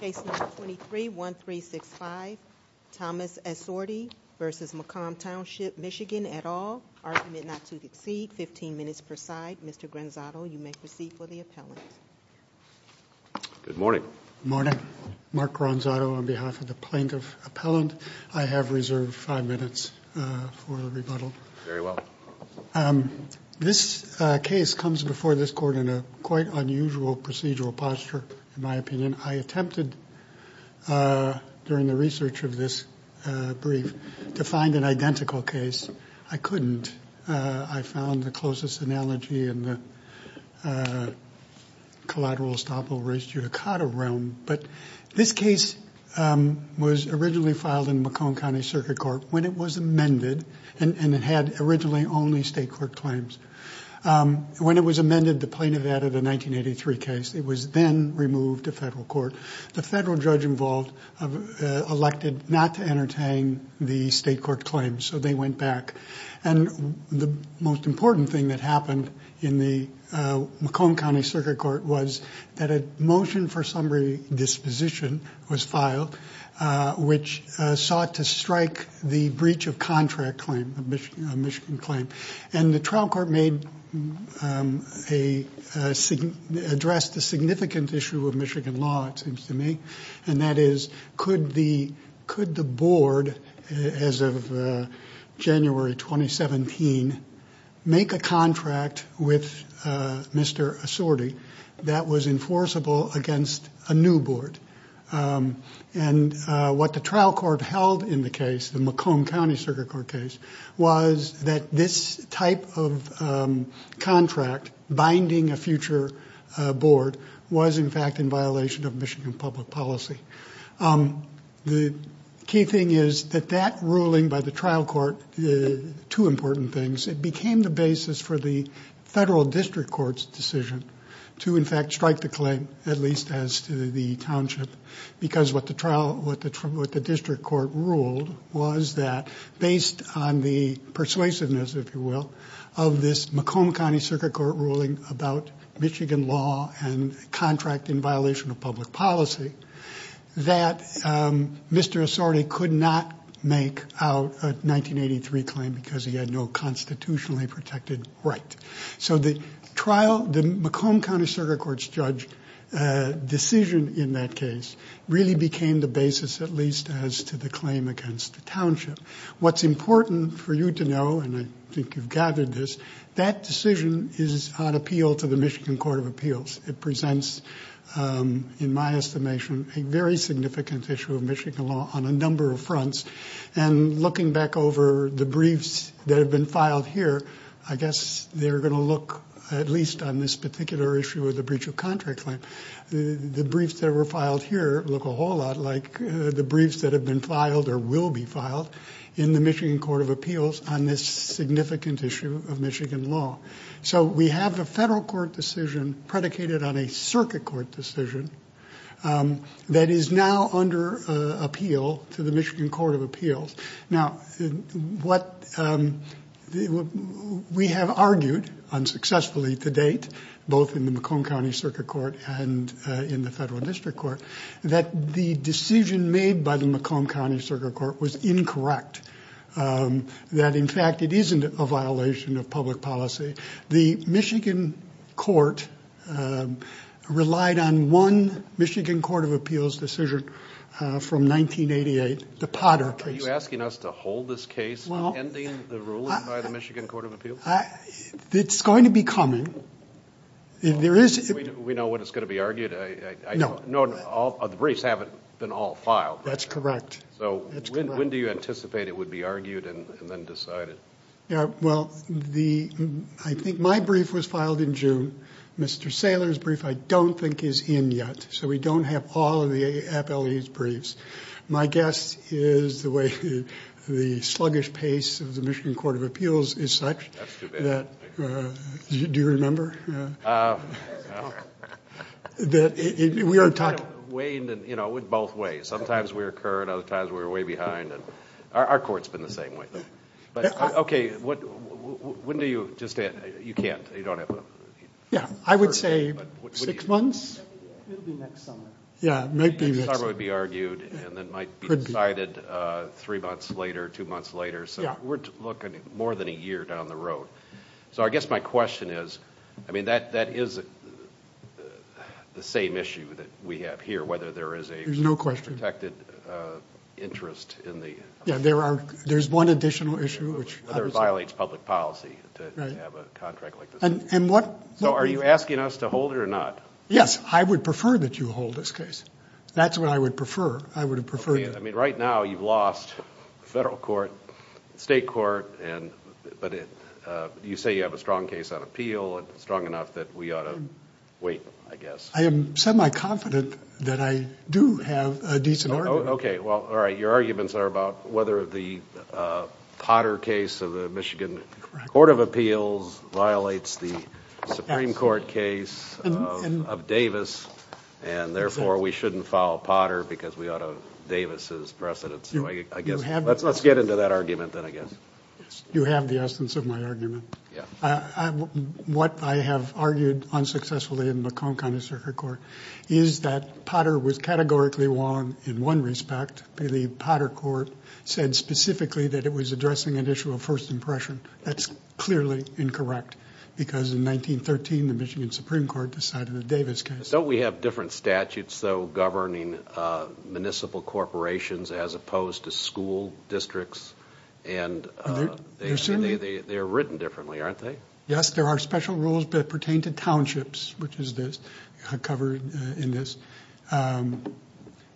Case No. 23-1365, Thomas Esordi v. Macomb Township MI et al., argument not to succeed, 15 minutes per side. Mr. Granzato, you may proceed for the appellant. Good morning. Good morning. Mark Granzato on behalf of the plaintiff appellant. I have reserved five minutes for the rebuttal. Very well. This case comes before this court in a quite unusual procedural posture, in my opinion. I attempted during the research of this brief to find an identical case. I couldn't. I found the closest analogy in the collateral estoppel reis judicata realm. But this case was originally filed in Macomb County Circuit Court when it was amended, and it had originally only state court claims. When it was amended, the plaintiff added a 1983 case. It was then removed to federal court. The federal judge involved elected not to entertain the state court claims, so they went back. And the most important thing that happened in the Macomb County Circuit Court was that a motion for summary disposition was filed, which sought to strike the breach of contract claim, the Michigan claim. The trial court addressed a significant issue of Michigan law, it seems to me, and that is could the board, as of January 2017, make a contract with Mr. Assorti that was enforceable against a new board? And what the trial court held in the case, the Macomb County Circuit Court case, was that this type of contract binding a future board was, in fact, in violation of Michigan public policy. The key thing is that that ruling by the trial court, two important things, it became the basis for the federal district court's decision to, in fact, strike the claim, at least as to the township, because what the district court ruled was that, based on the persuasiveness, if you will, of this Macomb County Circuit Court ruling about Michigan law and contract in violation of public policy, that Mr. Assorti could not make out a 1983 claim because he had no constitutionally protected right. So the trial, the Macomb County Circuit Court's judge decision in that case really became the basis, at least as to the claim against the township. What's important for you to know, and I think you've gathered this, that decision is on appeal to the Michigan Court of Appeals. It presents, in my estimation, a very significant issue of Michigan law on a number of fronts. And looking back over the briefs that have been filed here, I guess they're going to look, at least on this particular issue of the breach of contract claim, the briefs that were filed here look a whole lot like the briefs that have been filed or will be filed in the Michigan Court of Appeals on this significant issue of Michigan law. So we have a federal court decision predicated on a circuit court decision that is now under appeal to the Michigan Court of Appeals. Now, what we have argued unsuccessfully to date, both in the Macomb County Circuit Court and in the Federal District Court, that the decision made by the Macomb County Circuit Court was incorrect, that in fact it isn't a violation of public policy. The Michigan Court relied on one Michigan Court of Appeals decision from 1988, the Potter case. Are you asking us to hold this case, ending the ruling by the Michigan Court of Appeals? It's going to be coming. We know when it's going to be argued. The briefs haven't been all filed. That's correct. That's correct. So when do you anticipate it would be argued and then decided? Well, I think my brief was filed in June. Mr. Saylor's brief I don't think is in yet. So we don't have all of the appellee's briefs. My guess is the way the sluggish pace of the Michigan Court of Appeals is such, do you remember? We are talking. It kind of waned in both ways. Sometimes we were current, other times we were way behind. Our court's been the same way. Okay, when do you just say it? You can't. You don't have... Yeah, I would say six months. It'll be next summer. Yeah, it might be next summer. Next summer it would be argued and then might be decided three months later, two months later. So we're looking at more than a year down the road. So I guess my question is, I mean, that is the same issue that we have here, whether there is a... There's no question. ...protected interest in the... Yeah, there's one additional issue which... ...violates public policy to have a contract like this. And what... So are you asking us to hold it or not? Yes, I would prefer that you hold this case. That's what I would prefer. I would have preferred that. I mean, right now you've lost federal court, state court, but you say you have a strong case on appeal and strong enough that we ought to wait, I guess. I am semi-confident that I do have a decent argument. Okay, well, all right. So your arguments are about whether the Potter case of the Michigan Court of Appeals violates the Supreme Court case of Davis, and therefore we shouldn't file Potter because we ought to... Davis is precedent. So I guess... You have... Let's get into that argument then, I guess. Yes, you have the essence of my argument. What I have argued unsuccessfully in the Macomb County Circuit Court is that Potter was categorically wrong in one respect, but the Potter court said specifically that it was addressing an issue of first impression. That's clearly incorrect, because in 1913, the Michigan Supreme Court decided the Davis case... Don't we have different statutes, though, governing municipal corporations as opposed to school districts? And they're written differently, aren't they? Yes, there are special rules that pertain to townships, which is covered in this.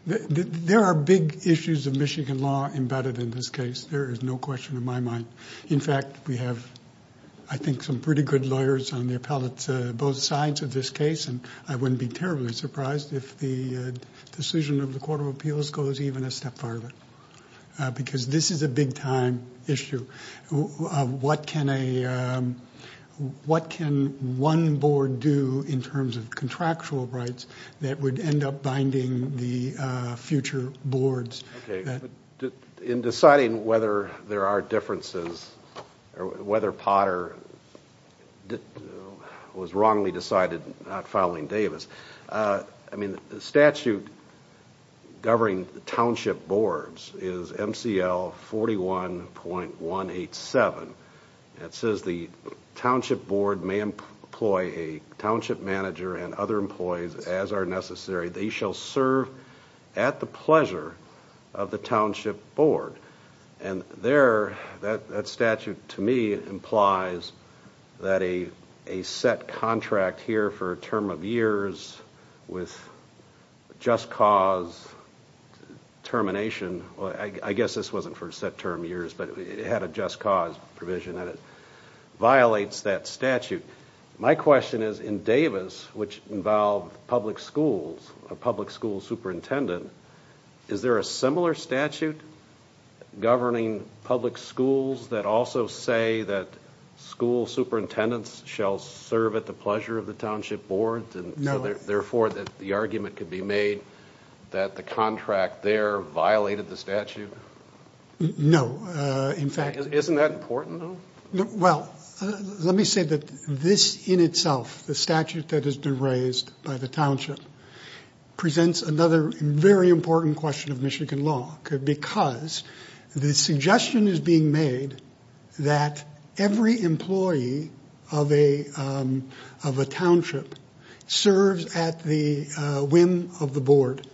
There are big issues of Michigan law embedded in this case, there is no question in my mind. In fact, we have, I think, some pretty good lawyers on the appellate, both sides of this case, and I wouldn't be terribly surprised if the decision of the Court of Appeals goes even a step farther, because this is a big time issue of what can a... What can one board do in terms of contractual rights that would end up binding the future boards? In deciding whether there are differences, or whether Potter was wrongly decided not following Davis, I mean, the statute governing township boards is MCL 41.187, and it says the township board may employ a township manager and other employees as are necessary. They shall serve at the pleasure of the township board. And there, that statute, to me, implies that a set contract here for a term of years with just cause termination, I guess this wasn't for set term years, but it had a just cause provision that it violates that statute. My question is, in Davis, which involved public schools, a public school superintendent, is there a similar statute governing public schools that also say that school superintendents shall serve at the pleasure of the township board, and therefore the argument could be made that the contract there violated the statute? No. Isn't that important, though? Well, let me say that this in itself, the statute that has been raised by the township, presents another very important question of Michigan law, because the suggestion is being made that every employee of a township serves at the whim of the board.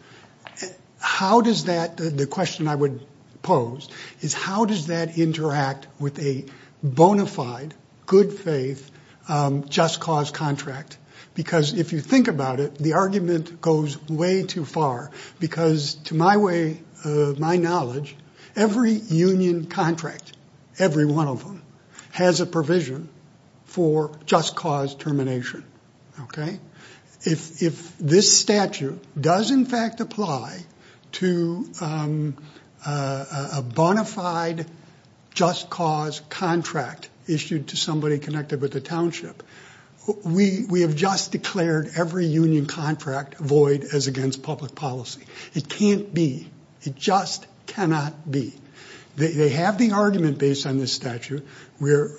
How does that, the question I would pose, is how does that interact with a bona fide, good faith, just cause contract? Because if you think about it, the argument goes way too far, because to my knowledge, every union contract, every one of them, has a provision for just cause termination. Okay? If this statute does in fact apply to a bona fide just cause contract issued to somebody connected with the township, we have just declared every union contract void as against public policy. It can't be. It just cannot be. They have the argument based on this statute. When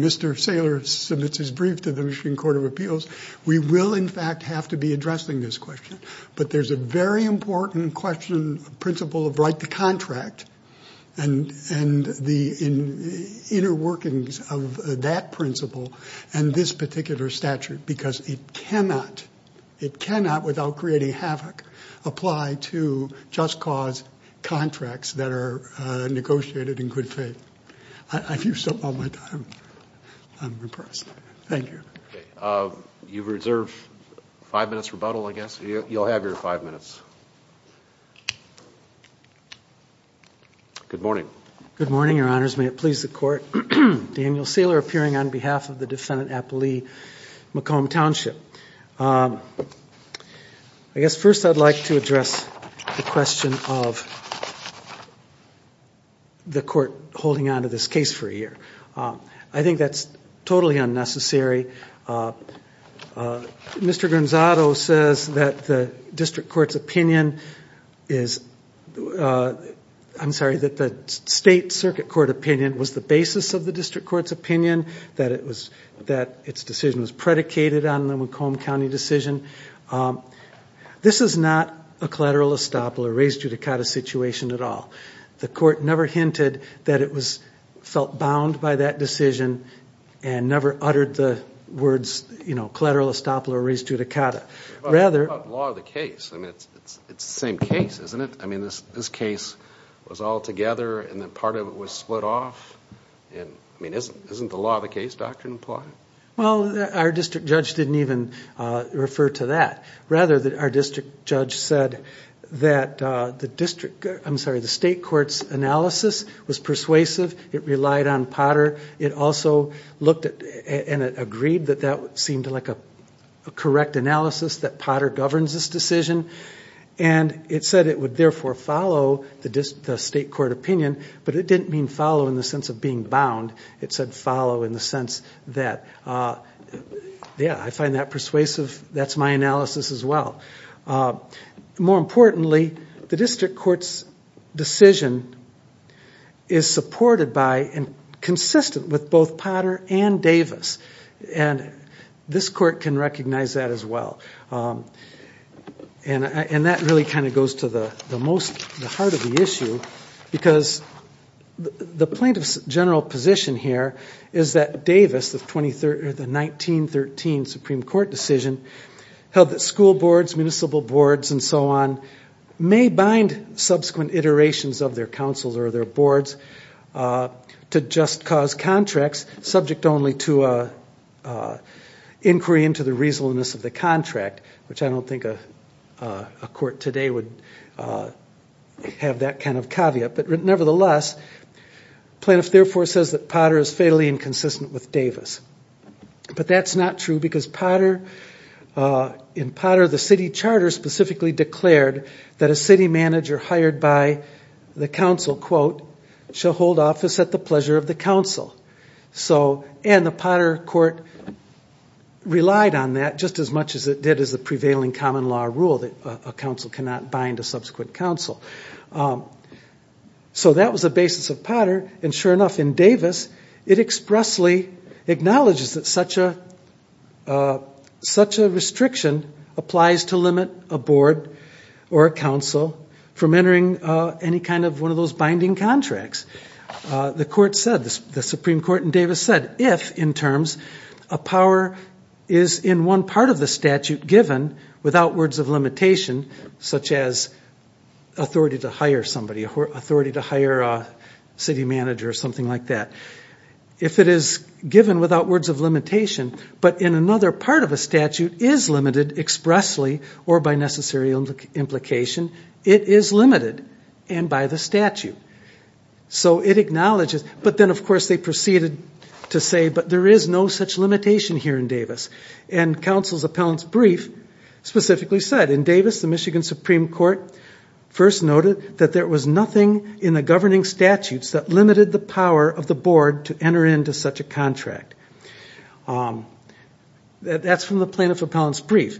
Mr. Saylor submits his brief to the Michigan Court of Appeals, we will in fact have to be addressing this question. But there's a very important question, principle of right to contract, and the inner workings of that principle and this particular statute, because it cannot, it cannot without creating havoc, apply to just cause contracts that are negotiated in good faith. I've used up all my time, I'm impressed. Thank you. Okay. You've reserved five minutes rebuttal, I guess. You'll have your five minutes. Good morning. Good morning, your honors. May it please the court. Daniel Saylor, appearing on behalf of the defendant, Appali McComb Township. I guess first I'd like to address the question of the court holding on to this case for a I think that's totally unnecessary. Mr. Gonzado says that the district court's opinion is, I'm sorry, that the state circuit court opinion was the basis of the district court's opinion, that it was, that its decision was predicated on the McComb County decision. This is not a collateral estoppel or res judicata situation at all. The court never hinted that it was, felt bound by that decision, and never uttered the words, you know, collateral estoppel or res judicata. Rather What about the law of the case? I mean, it's the same case, isn't it? I mean, this case was all together and then part of it was split off, and I mean, isn't the law of the case doctrine applied? Well, our district judge didn't even refer to that. Rather, our district judge said that the district, I'm sorry, the state court's analysis was persuasive. It relied on Potter. It also looked at, and it agreed that that seemed like a correct analysis that Potter governs this decision, and it said it would therefore follow the state court opinion, but it didn't mean follow in the sense of being bound. It said follow in the sense that, yeah, I find that persuasive. That's my analysis as well. More importantly, the district court's decision is supported by and consistent with both Potter and Davis, and this court can recognize that as well. And that really kind of goes to the most, the heart of the issue, because the plaintiff's general position here is that Davis, the 1913 Supreme Court decision, held that school boards, municipal boards, and so on, may bind subsequent iterations of their councils or their boards to just cause contracts subject only to an inquiry into the reasonableness of the contract, which I don't think a court today would have that kind of caveat. But nevertheless, the plaintiff therefore says that Potter is fatally inconsistent with Davis, but that's not true because in Potter, the city charter specifically declared that a city manager hired by the council, quote, shall hold office at the pleasure of the council. And the Potter court relied on that just as much as it did as the prevailing common law rule that a council cannot bind a subsequent council. So that was the basis of Potter, and sure enough, in Davis, it expressly acknowledges that such a restriction applies to limit a board or a council from entering any kind of one of those binding contracts. The court said, the Supreme Court in Davis said, if, in terms, a power is in one part of the statute given without words of limitation, such as authority to hire somebody, authority to hire a city manager or something like that, if it is given without words of limitation, but in another part of a statute is limited expressly or by necessary implication, it is limited and by the statute. So it acknowledges, but then of course they proceeded to say, but there is no such limitation here in Davis. And council's appellant's brief specifically said, in Davis, the Michigan Supreme Court first noted that there was nothing in the governing statutes that limited the power of the board to enter into such a contract. That's from the plaintiff's appellant's brief.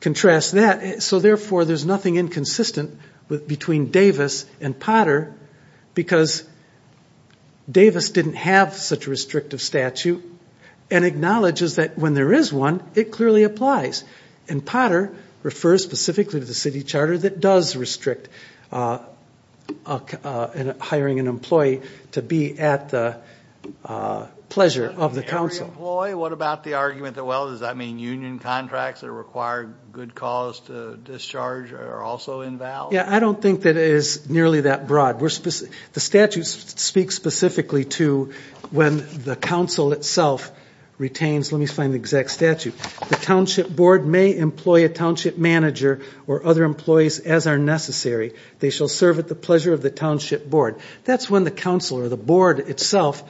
Contrast that, so therefore there's nothing inconsistent between Davis and Potter because Davis didn't have such a restrictive statute and acknowledges that when there is one, it clearly applies. And Potter refers specifically to the city charter that does restrict hiring an employee to be at the pleasure of the council. Every employee? What about the argument that, well, does that mean union contracts that require good cause to discharge are also invalid? Yeah, I don't think that it is nearly that broad. The statute speaks specifically to when the council itself retains, let me find the exact statute, the township board may employ a township manager or other employees as are necessary. They shall serve at the pleasure of the township board. That's when the council or the board itself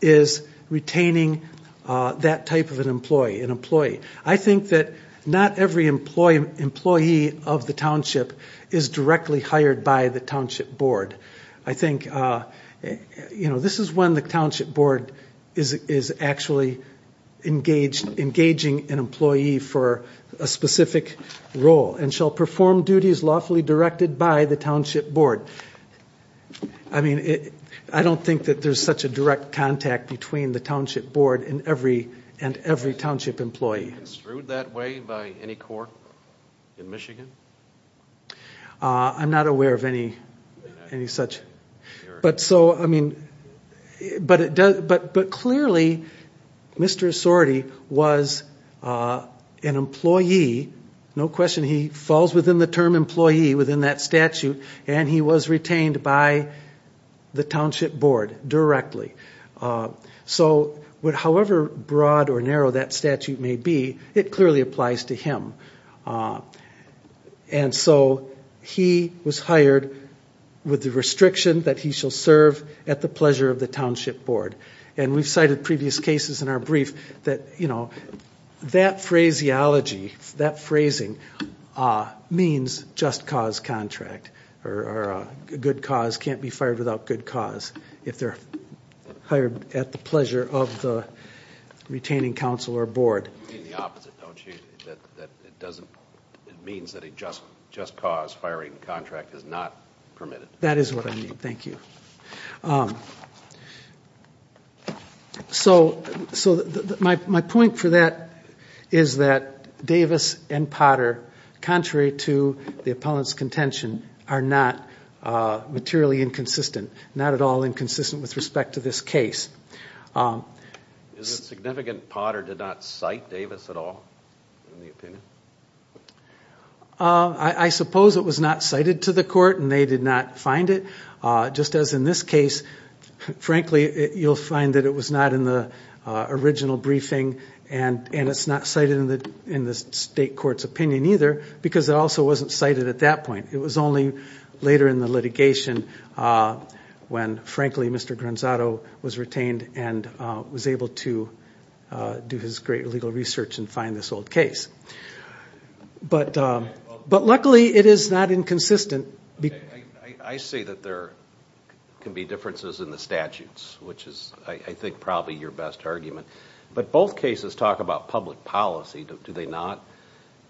is retaining that type of an employee. I think that not every employee of the township is directly hired by the township board. I think this is when the township board is actually engaging an employee for a specific role and shall perform duties lawfully directed by the township board. I don't think that there's such a direct contact between the township board and every township employee. Is it construed that way by any court in Michigan? I'm not aware of any such. But clearly, Mr. Sordi was an employee, no question, he falls within the term employee within that statute and he was retained by the township board directly. So, however broad or narrow that statute may be, it clearly applies to him. And so he was hired with the restriction that he shall serve at the pleasure of the township board. And we've cited previous cases in our brief that, you know, that phraseology, that phrasing means just cause contract, or a good cause can't be fired without good cause. If they're hired at the pleasure of the retaining council or board. You mean the opposite, don't you, that it doesn't, it means that a just cause firing contract is not permitted. That is what I mean, thank you. So, my point for that is that Davis and Potter, contrary to the opponent's contention, are not materially inconsistent, not at all inconsistent with respect to this case. Is it significant Potter did not cite Davis at all in the opinion? I suppose it was not cited to the court and they did not find it. Just as in this case, frankly, you'll find that it was not in the original briefing and it's not cited in the state court's opinion either because it also wasn't cited at that point. It was only later in the litigation when, frankly, Mr. Granzato was retained and was able to do his great legal research and find this old case. But luckily it is not inconsistent. I see that there can be differences in the statutes, which is, I think, probably your best argument. But both cases talk about public policy, do they not?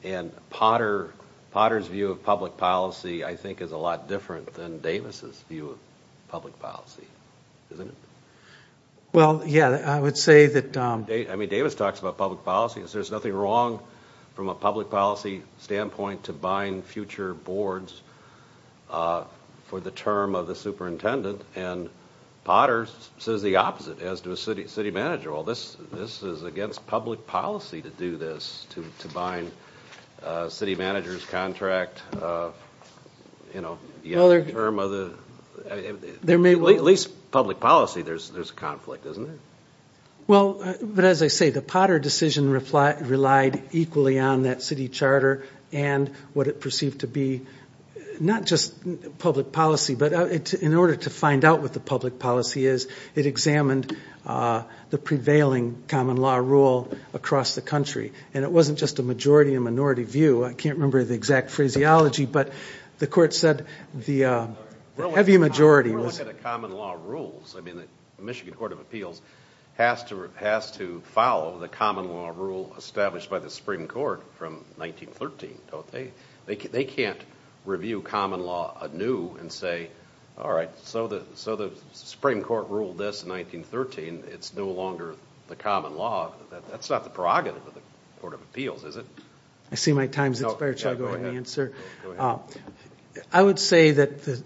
And Potter's view of public policy, I think, is a lot different than Davis' view of public policy, isn't it? Well, yeah, I would say that... I mean, Davis talks about public policy. There's nothing wrong from a public policy standpoint to bind future boards for the term of the superintendent and Potter says the opposite as to a city manager. Well, this is against public policy to do this, to bind a city manager's contract, you know, the term of the... At least public policy, there's conflict, isn't there? Well, but as I say, the Potter decision relied equally on that city charter and what it perceived to be not just public policy, but in order to find out what the public policy is, it examined the prevailing common law rule across the country. And it wasn't just a majority and minority view. I can't remember the exact phraseology, but the court said the heavy majority... But if you look at the common law rules, I mean, the Michigan Court of Appeals has to follow the common law rule established by the Supreme Court from 1913, don't they? They can't review common law anew and say, all right, so the Supreme Court ruled this in 1913, it's no longer the common law. That's not the prerogative of the Court of Appeals, is it? I see my time's expired, should I go ahead and answer? I would say that...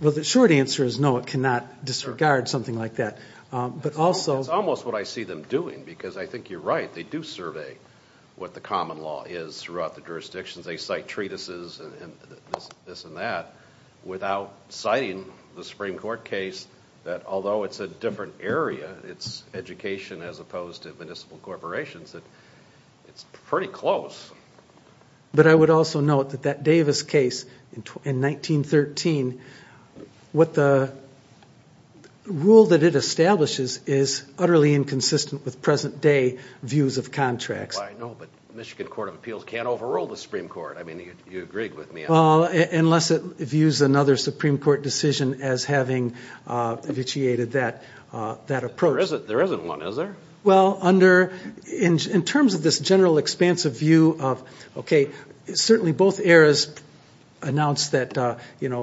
Well, the short answer is no, it cannot disregard something like that, but also... That's almost what I see them doing, because I think you're right, they do survey what the common law is throughout the jurisdictions. They cite treatises and this and that, without citing the Supreme Court case that although it's a different area, it's education as opposed to municipal corporations, that it's pretty close. But I would also note that that Davis case in 1913, what the rule that it establishes is utterly inconsistent with present day views of contracts. Well, I know, but Michigan Court of Appeals can't overrule the Supreme Court, I mean, you agreed with me on that. Well, unless it views another Supreme Court decision as having vitiated that approach. There isn't one, is there? Well, under... In terms of this general expansive view of, okay, certainly both eras announced that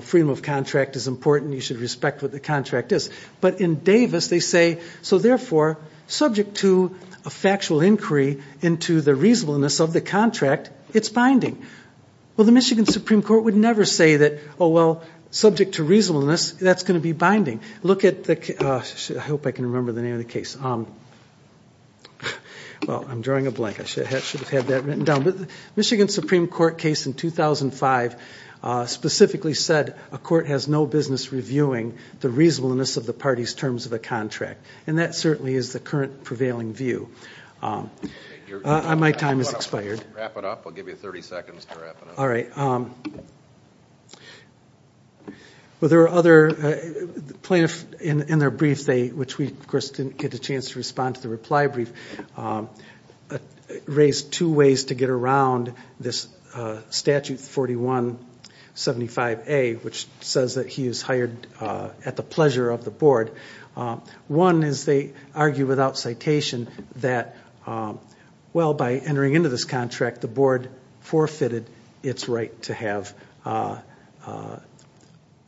freedom of contract is important, you should respect what the contract is. But in Davis, they say, so therefore, subject to a factual inquiry into the reasonableness of the contract, it's binding. Well, the Michigan Supreme Court would never say that, oh, well, subject to reasonableness, that's going to be binding. Look at the... I hope I can remember the name of the case. Well, I'm drawing a blank, I should have had that written down. But the Michigan Supreme Court case in 2005 specifically said, a court has no business reviewing the reasonableness of the party's terms of the contract. And that certainly is the current prevailing view. My time has expired. Wrap it up, we'll give you 30 seconds to wrap it up. All right. Well, there are other plaintiffs in their brief, which we, of course, didn't get a chance to respond to the reply brief, raised two ways to get around this Statute 4175A, which says that he is hired at the pleasure of the board. One is they argue without citation that, well, by entering into this contract, the board forfeited its right to have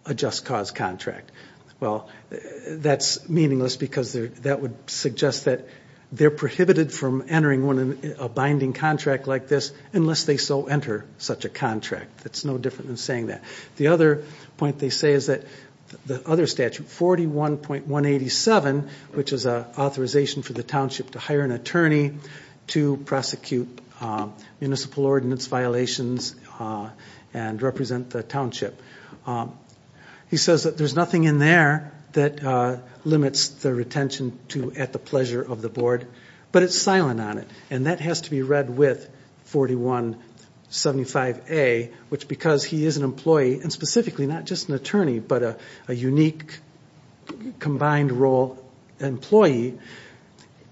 a just cause contract. Well, that's meaningless because that would suggest that they're prohibited from entering one in a binding contract like this unless they so enter such a contract. That's no different than saying that. The other point they say is that the other statute, 41.187, which is an authorization for the township to hire an attorney to prosecute municipal ordinance violations and represent the township. He says that there's nothing in there that limits the retention to at the pleasure of the board, but it's silent on it. And that has to be read with 4175A, which because he is an employee, and specifically not just an attorney, but a unique combined role employee,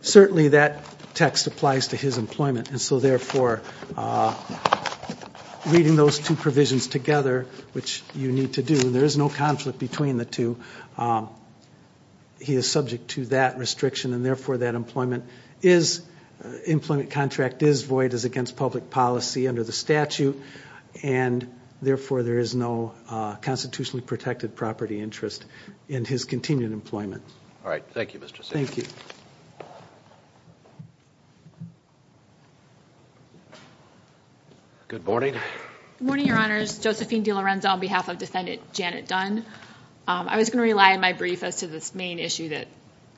certainly that text applies to his employment. And so, therefore, reading those two provisions together, which you need to do, there is no conflict between the two. He is subject to that restriction, and therefore that employment is, employment contract is void, is against public policy under the statute, and, therefore, there is no constitutionally protected property interest in his continued employment. All right. Thank you, Mr. Siegel. Thank you. Good morning. Good morning, Your Honors. Josephine DiLorenzo on behalf of Defendant Janet Dunn. I was going to rely on my brief as to this main issue that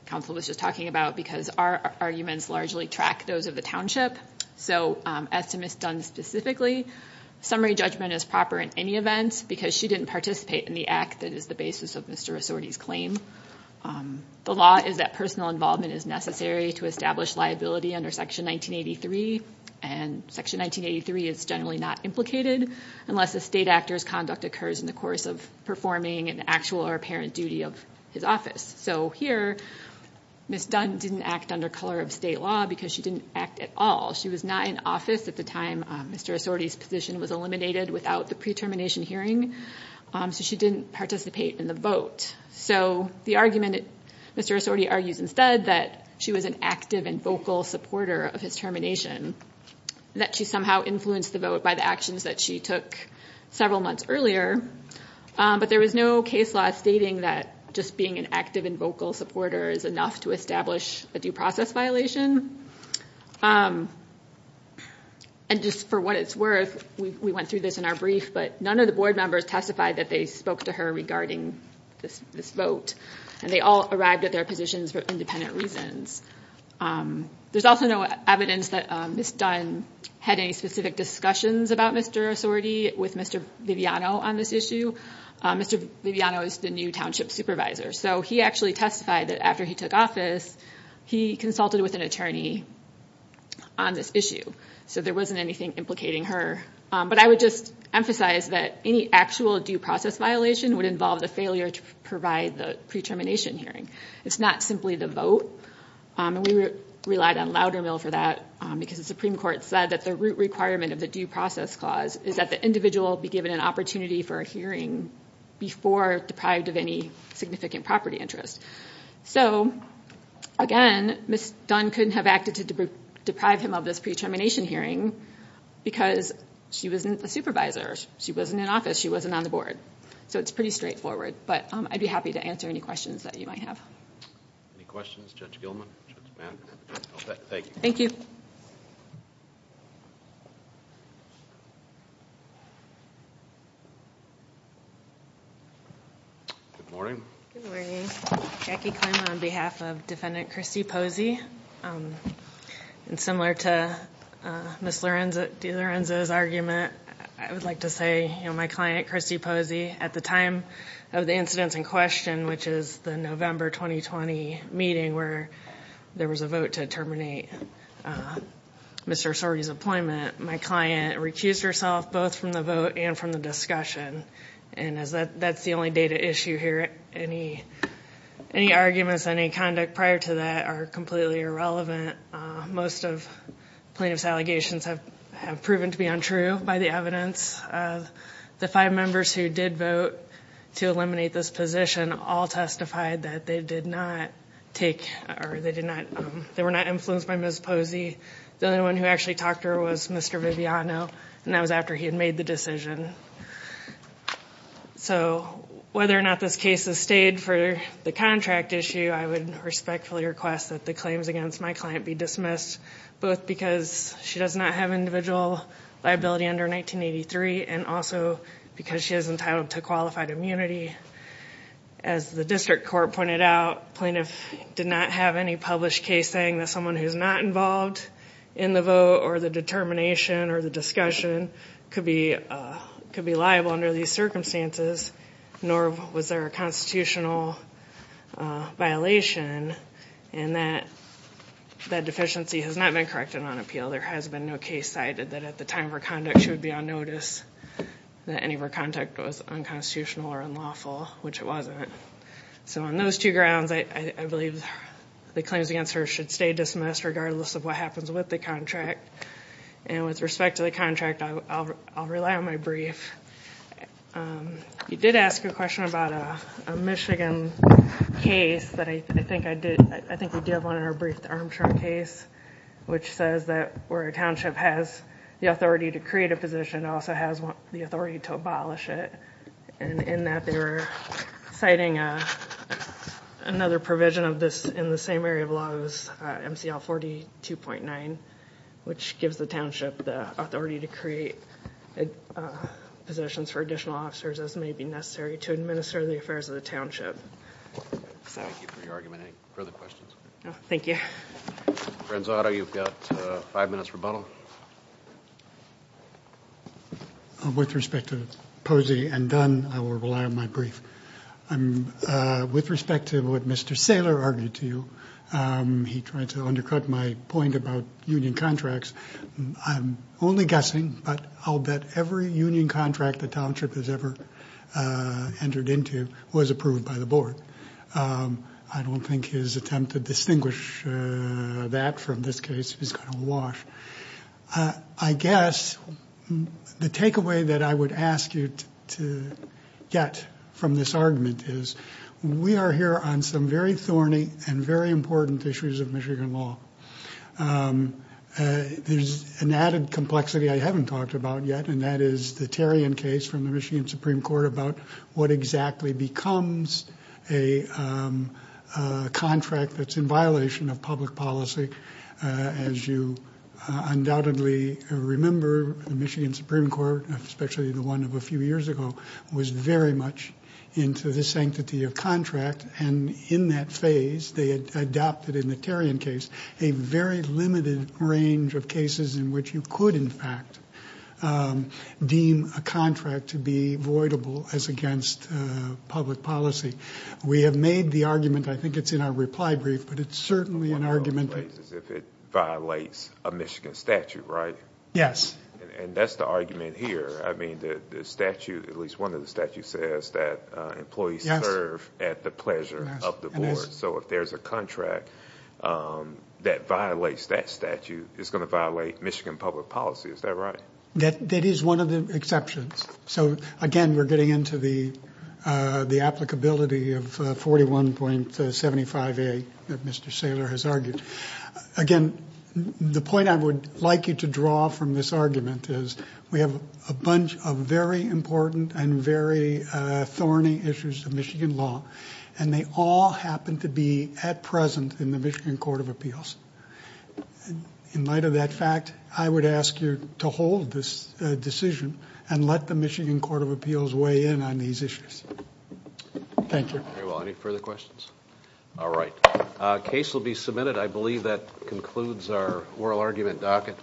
counsel was just talking about because our arguments largely track those of the township. So as to Ms. Dunn specifically, summary judgment is proper in any event because she didn't participate in the act that is the basis of Mr. Rossorti's claim. The law is that personal involvement is necessary to establish liability under Section 1983, and Section 1983 is generally not implicated unless the state actor's conduct occurs in the course of performing an actual or apparent duty of his office. So here, Ms. Dunn didn't act under color of state law because she didn't act at all. She was not in office at the time Mr. Rossorti's position was eliminated without the pre-termination hearing, so she didn't participate in the vote. So the argument, Mr. Rossorti argues instead that she was an active and vocal supporter of his termination, that she somehow influenced the vote by the actions that she took several months earlier, but there was no case law stating that just being an active and vocal supporter is enough to establish a due process violation. And just for what it's worth, we went through this in our brief, but none of the board members testified that they spoke to her regarding this vote, and they all arrived at their positions for independent reasons. There's also no evidence that Ms. Dunn had any specific discussions about Mr. Rossorti with Mr. Viviano on this issue. Mr. Viviano is the new township supervisor, so he actually testified that after he took office, he consulted with an attorney on this issue. So there wasn't anything implicating her. But I would just emphasize that any actual due process violation would involve the failure to provide the pre-termination hearing. It's not simply the vote, and we relied on Loudermill for that because the Supreme Court said that the root requirement of the Due Process Clause is that the individual be given an opportunity for a hearing before deprived of any significant property interest. So again, Ms. Dunn couldn't have acted to deprive him of this pre-termination hearing because she wasn't a supervisor. She wasn't in office. She wasn't on the board. So it's pretty straightforward. But I'd be happy to answer any questions that you might have. Any questions? Judge Gilman? Thank you. Thank you. Good morning. Good morning. Jackie Klima on behalf of Defendant Christy Posey. And similar to Ms. DiLorenzo's argument, I would like to say my client, Christy Posey, at the time of the incidents in question, which is the November 2020 meeting where there was a vote to terminate Mr. Sorgi's appointment, my client recused herself both from the vote and from the discussion. And that's the only data issue here. Any arguments, any conduct prior to that are completely irrelevant. Most of plaintiff's allegations have proven to be untrue by the evidence of the five members who did vote to eliminate this position all testified that they did not take or they were not influenced by Ms. Posey. The only one who actually talked to her was Mr. Viviano, and that was after he had made the decision. So whether or not this case has stayed for the contract issue, I would respectfully request that the claims against my client be dismissed, both because she does not have individual liability under 1983, and also because she is entitled to qualified immunity. As the district court pointed out, plaintiff did not have any published case saying that someone who's not involved in the vote or the determination or the discussion could be liable under these circumstances, nor was there a constitutional violation. And that deficiency has not been corrected on appeal. There has been no case cited that at the time of her conduct she would be on notice that any of her conduct was unconstitutional or unlawful, which it wasn't. So on those two grounds, I believe the claims against her should stay dismissed regardless of what happens with the contract. And with respect to the contract, I'll rely on my brief. You did ask a question about a Michigan case, but I think we did have one in our brief, the Armstrong case, which says that where a township has the authority to create a position, it also has the authority to abolish it. And in that, they were citing another provision of this in the same area of law as MCL 42.9, which gives the township the authority to create positions for additional officers as may be necessary to administer the affairs of the township. Thank you for your argument. Any further questions? No, thank you. Renzo Otto, you've got five minutes rebuttal. With respect to Posey and Dunn, I will rely on my brief. With respect to what Mr. Saylor argued to you, he tried to undercut my point about union contracts. I'm only guessing, but I'll bet every union contract the township has ever entered into was approved by the board. I don't think his attempt to distinguish that from this case is going to wash. I guess the takeaway that I would ask you to get from this argument is we are here on some very thorny and very important issues of Michigan law. There's an added complexity I haven't talked about yet, and that is the Terrien case from the becomes a contract that's in violation of public policy. As you undoubtedly remember, the Michigan Supreme Court, especially the one of a few years ago, was very much into the sanctity of contract, and in that phase they adopted in the Terrien case a very limited range of cases in which you could, in fact, deem a contract to be voidable as against public policy. We have made the argument, I think it's in our reply brief, but it's certainly an argument... One of the ways is if it violates a Michigan statute, right? Yes. And that's the argument here. I mean, the statute, at least one of the statutes says that employees serve at the pleasure of the board. So if there's a contract that violates that statute, it's going to violate Michigan public policy. Is that right? That is one of the exceptions. So, again, we're getting into the applicability of 41.75A that Mr. Saylor has argued. Again, the point I would like you to draw from this argument is we have a bunch of very important and very thorny issues of Michigan law, and they all happen to be at present in the Michigan Court of Appeals. In light of that fact, I would ask you to hold this decision and let the Michigan Court of Appeals weigh in on these issues. Thank you. Very well. Any further questions? All right. Case will be submitted. I believe that concludes our oral argument docket.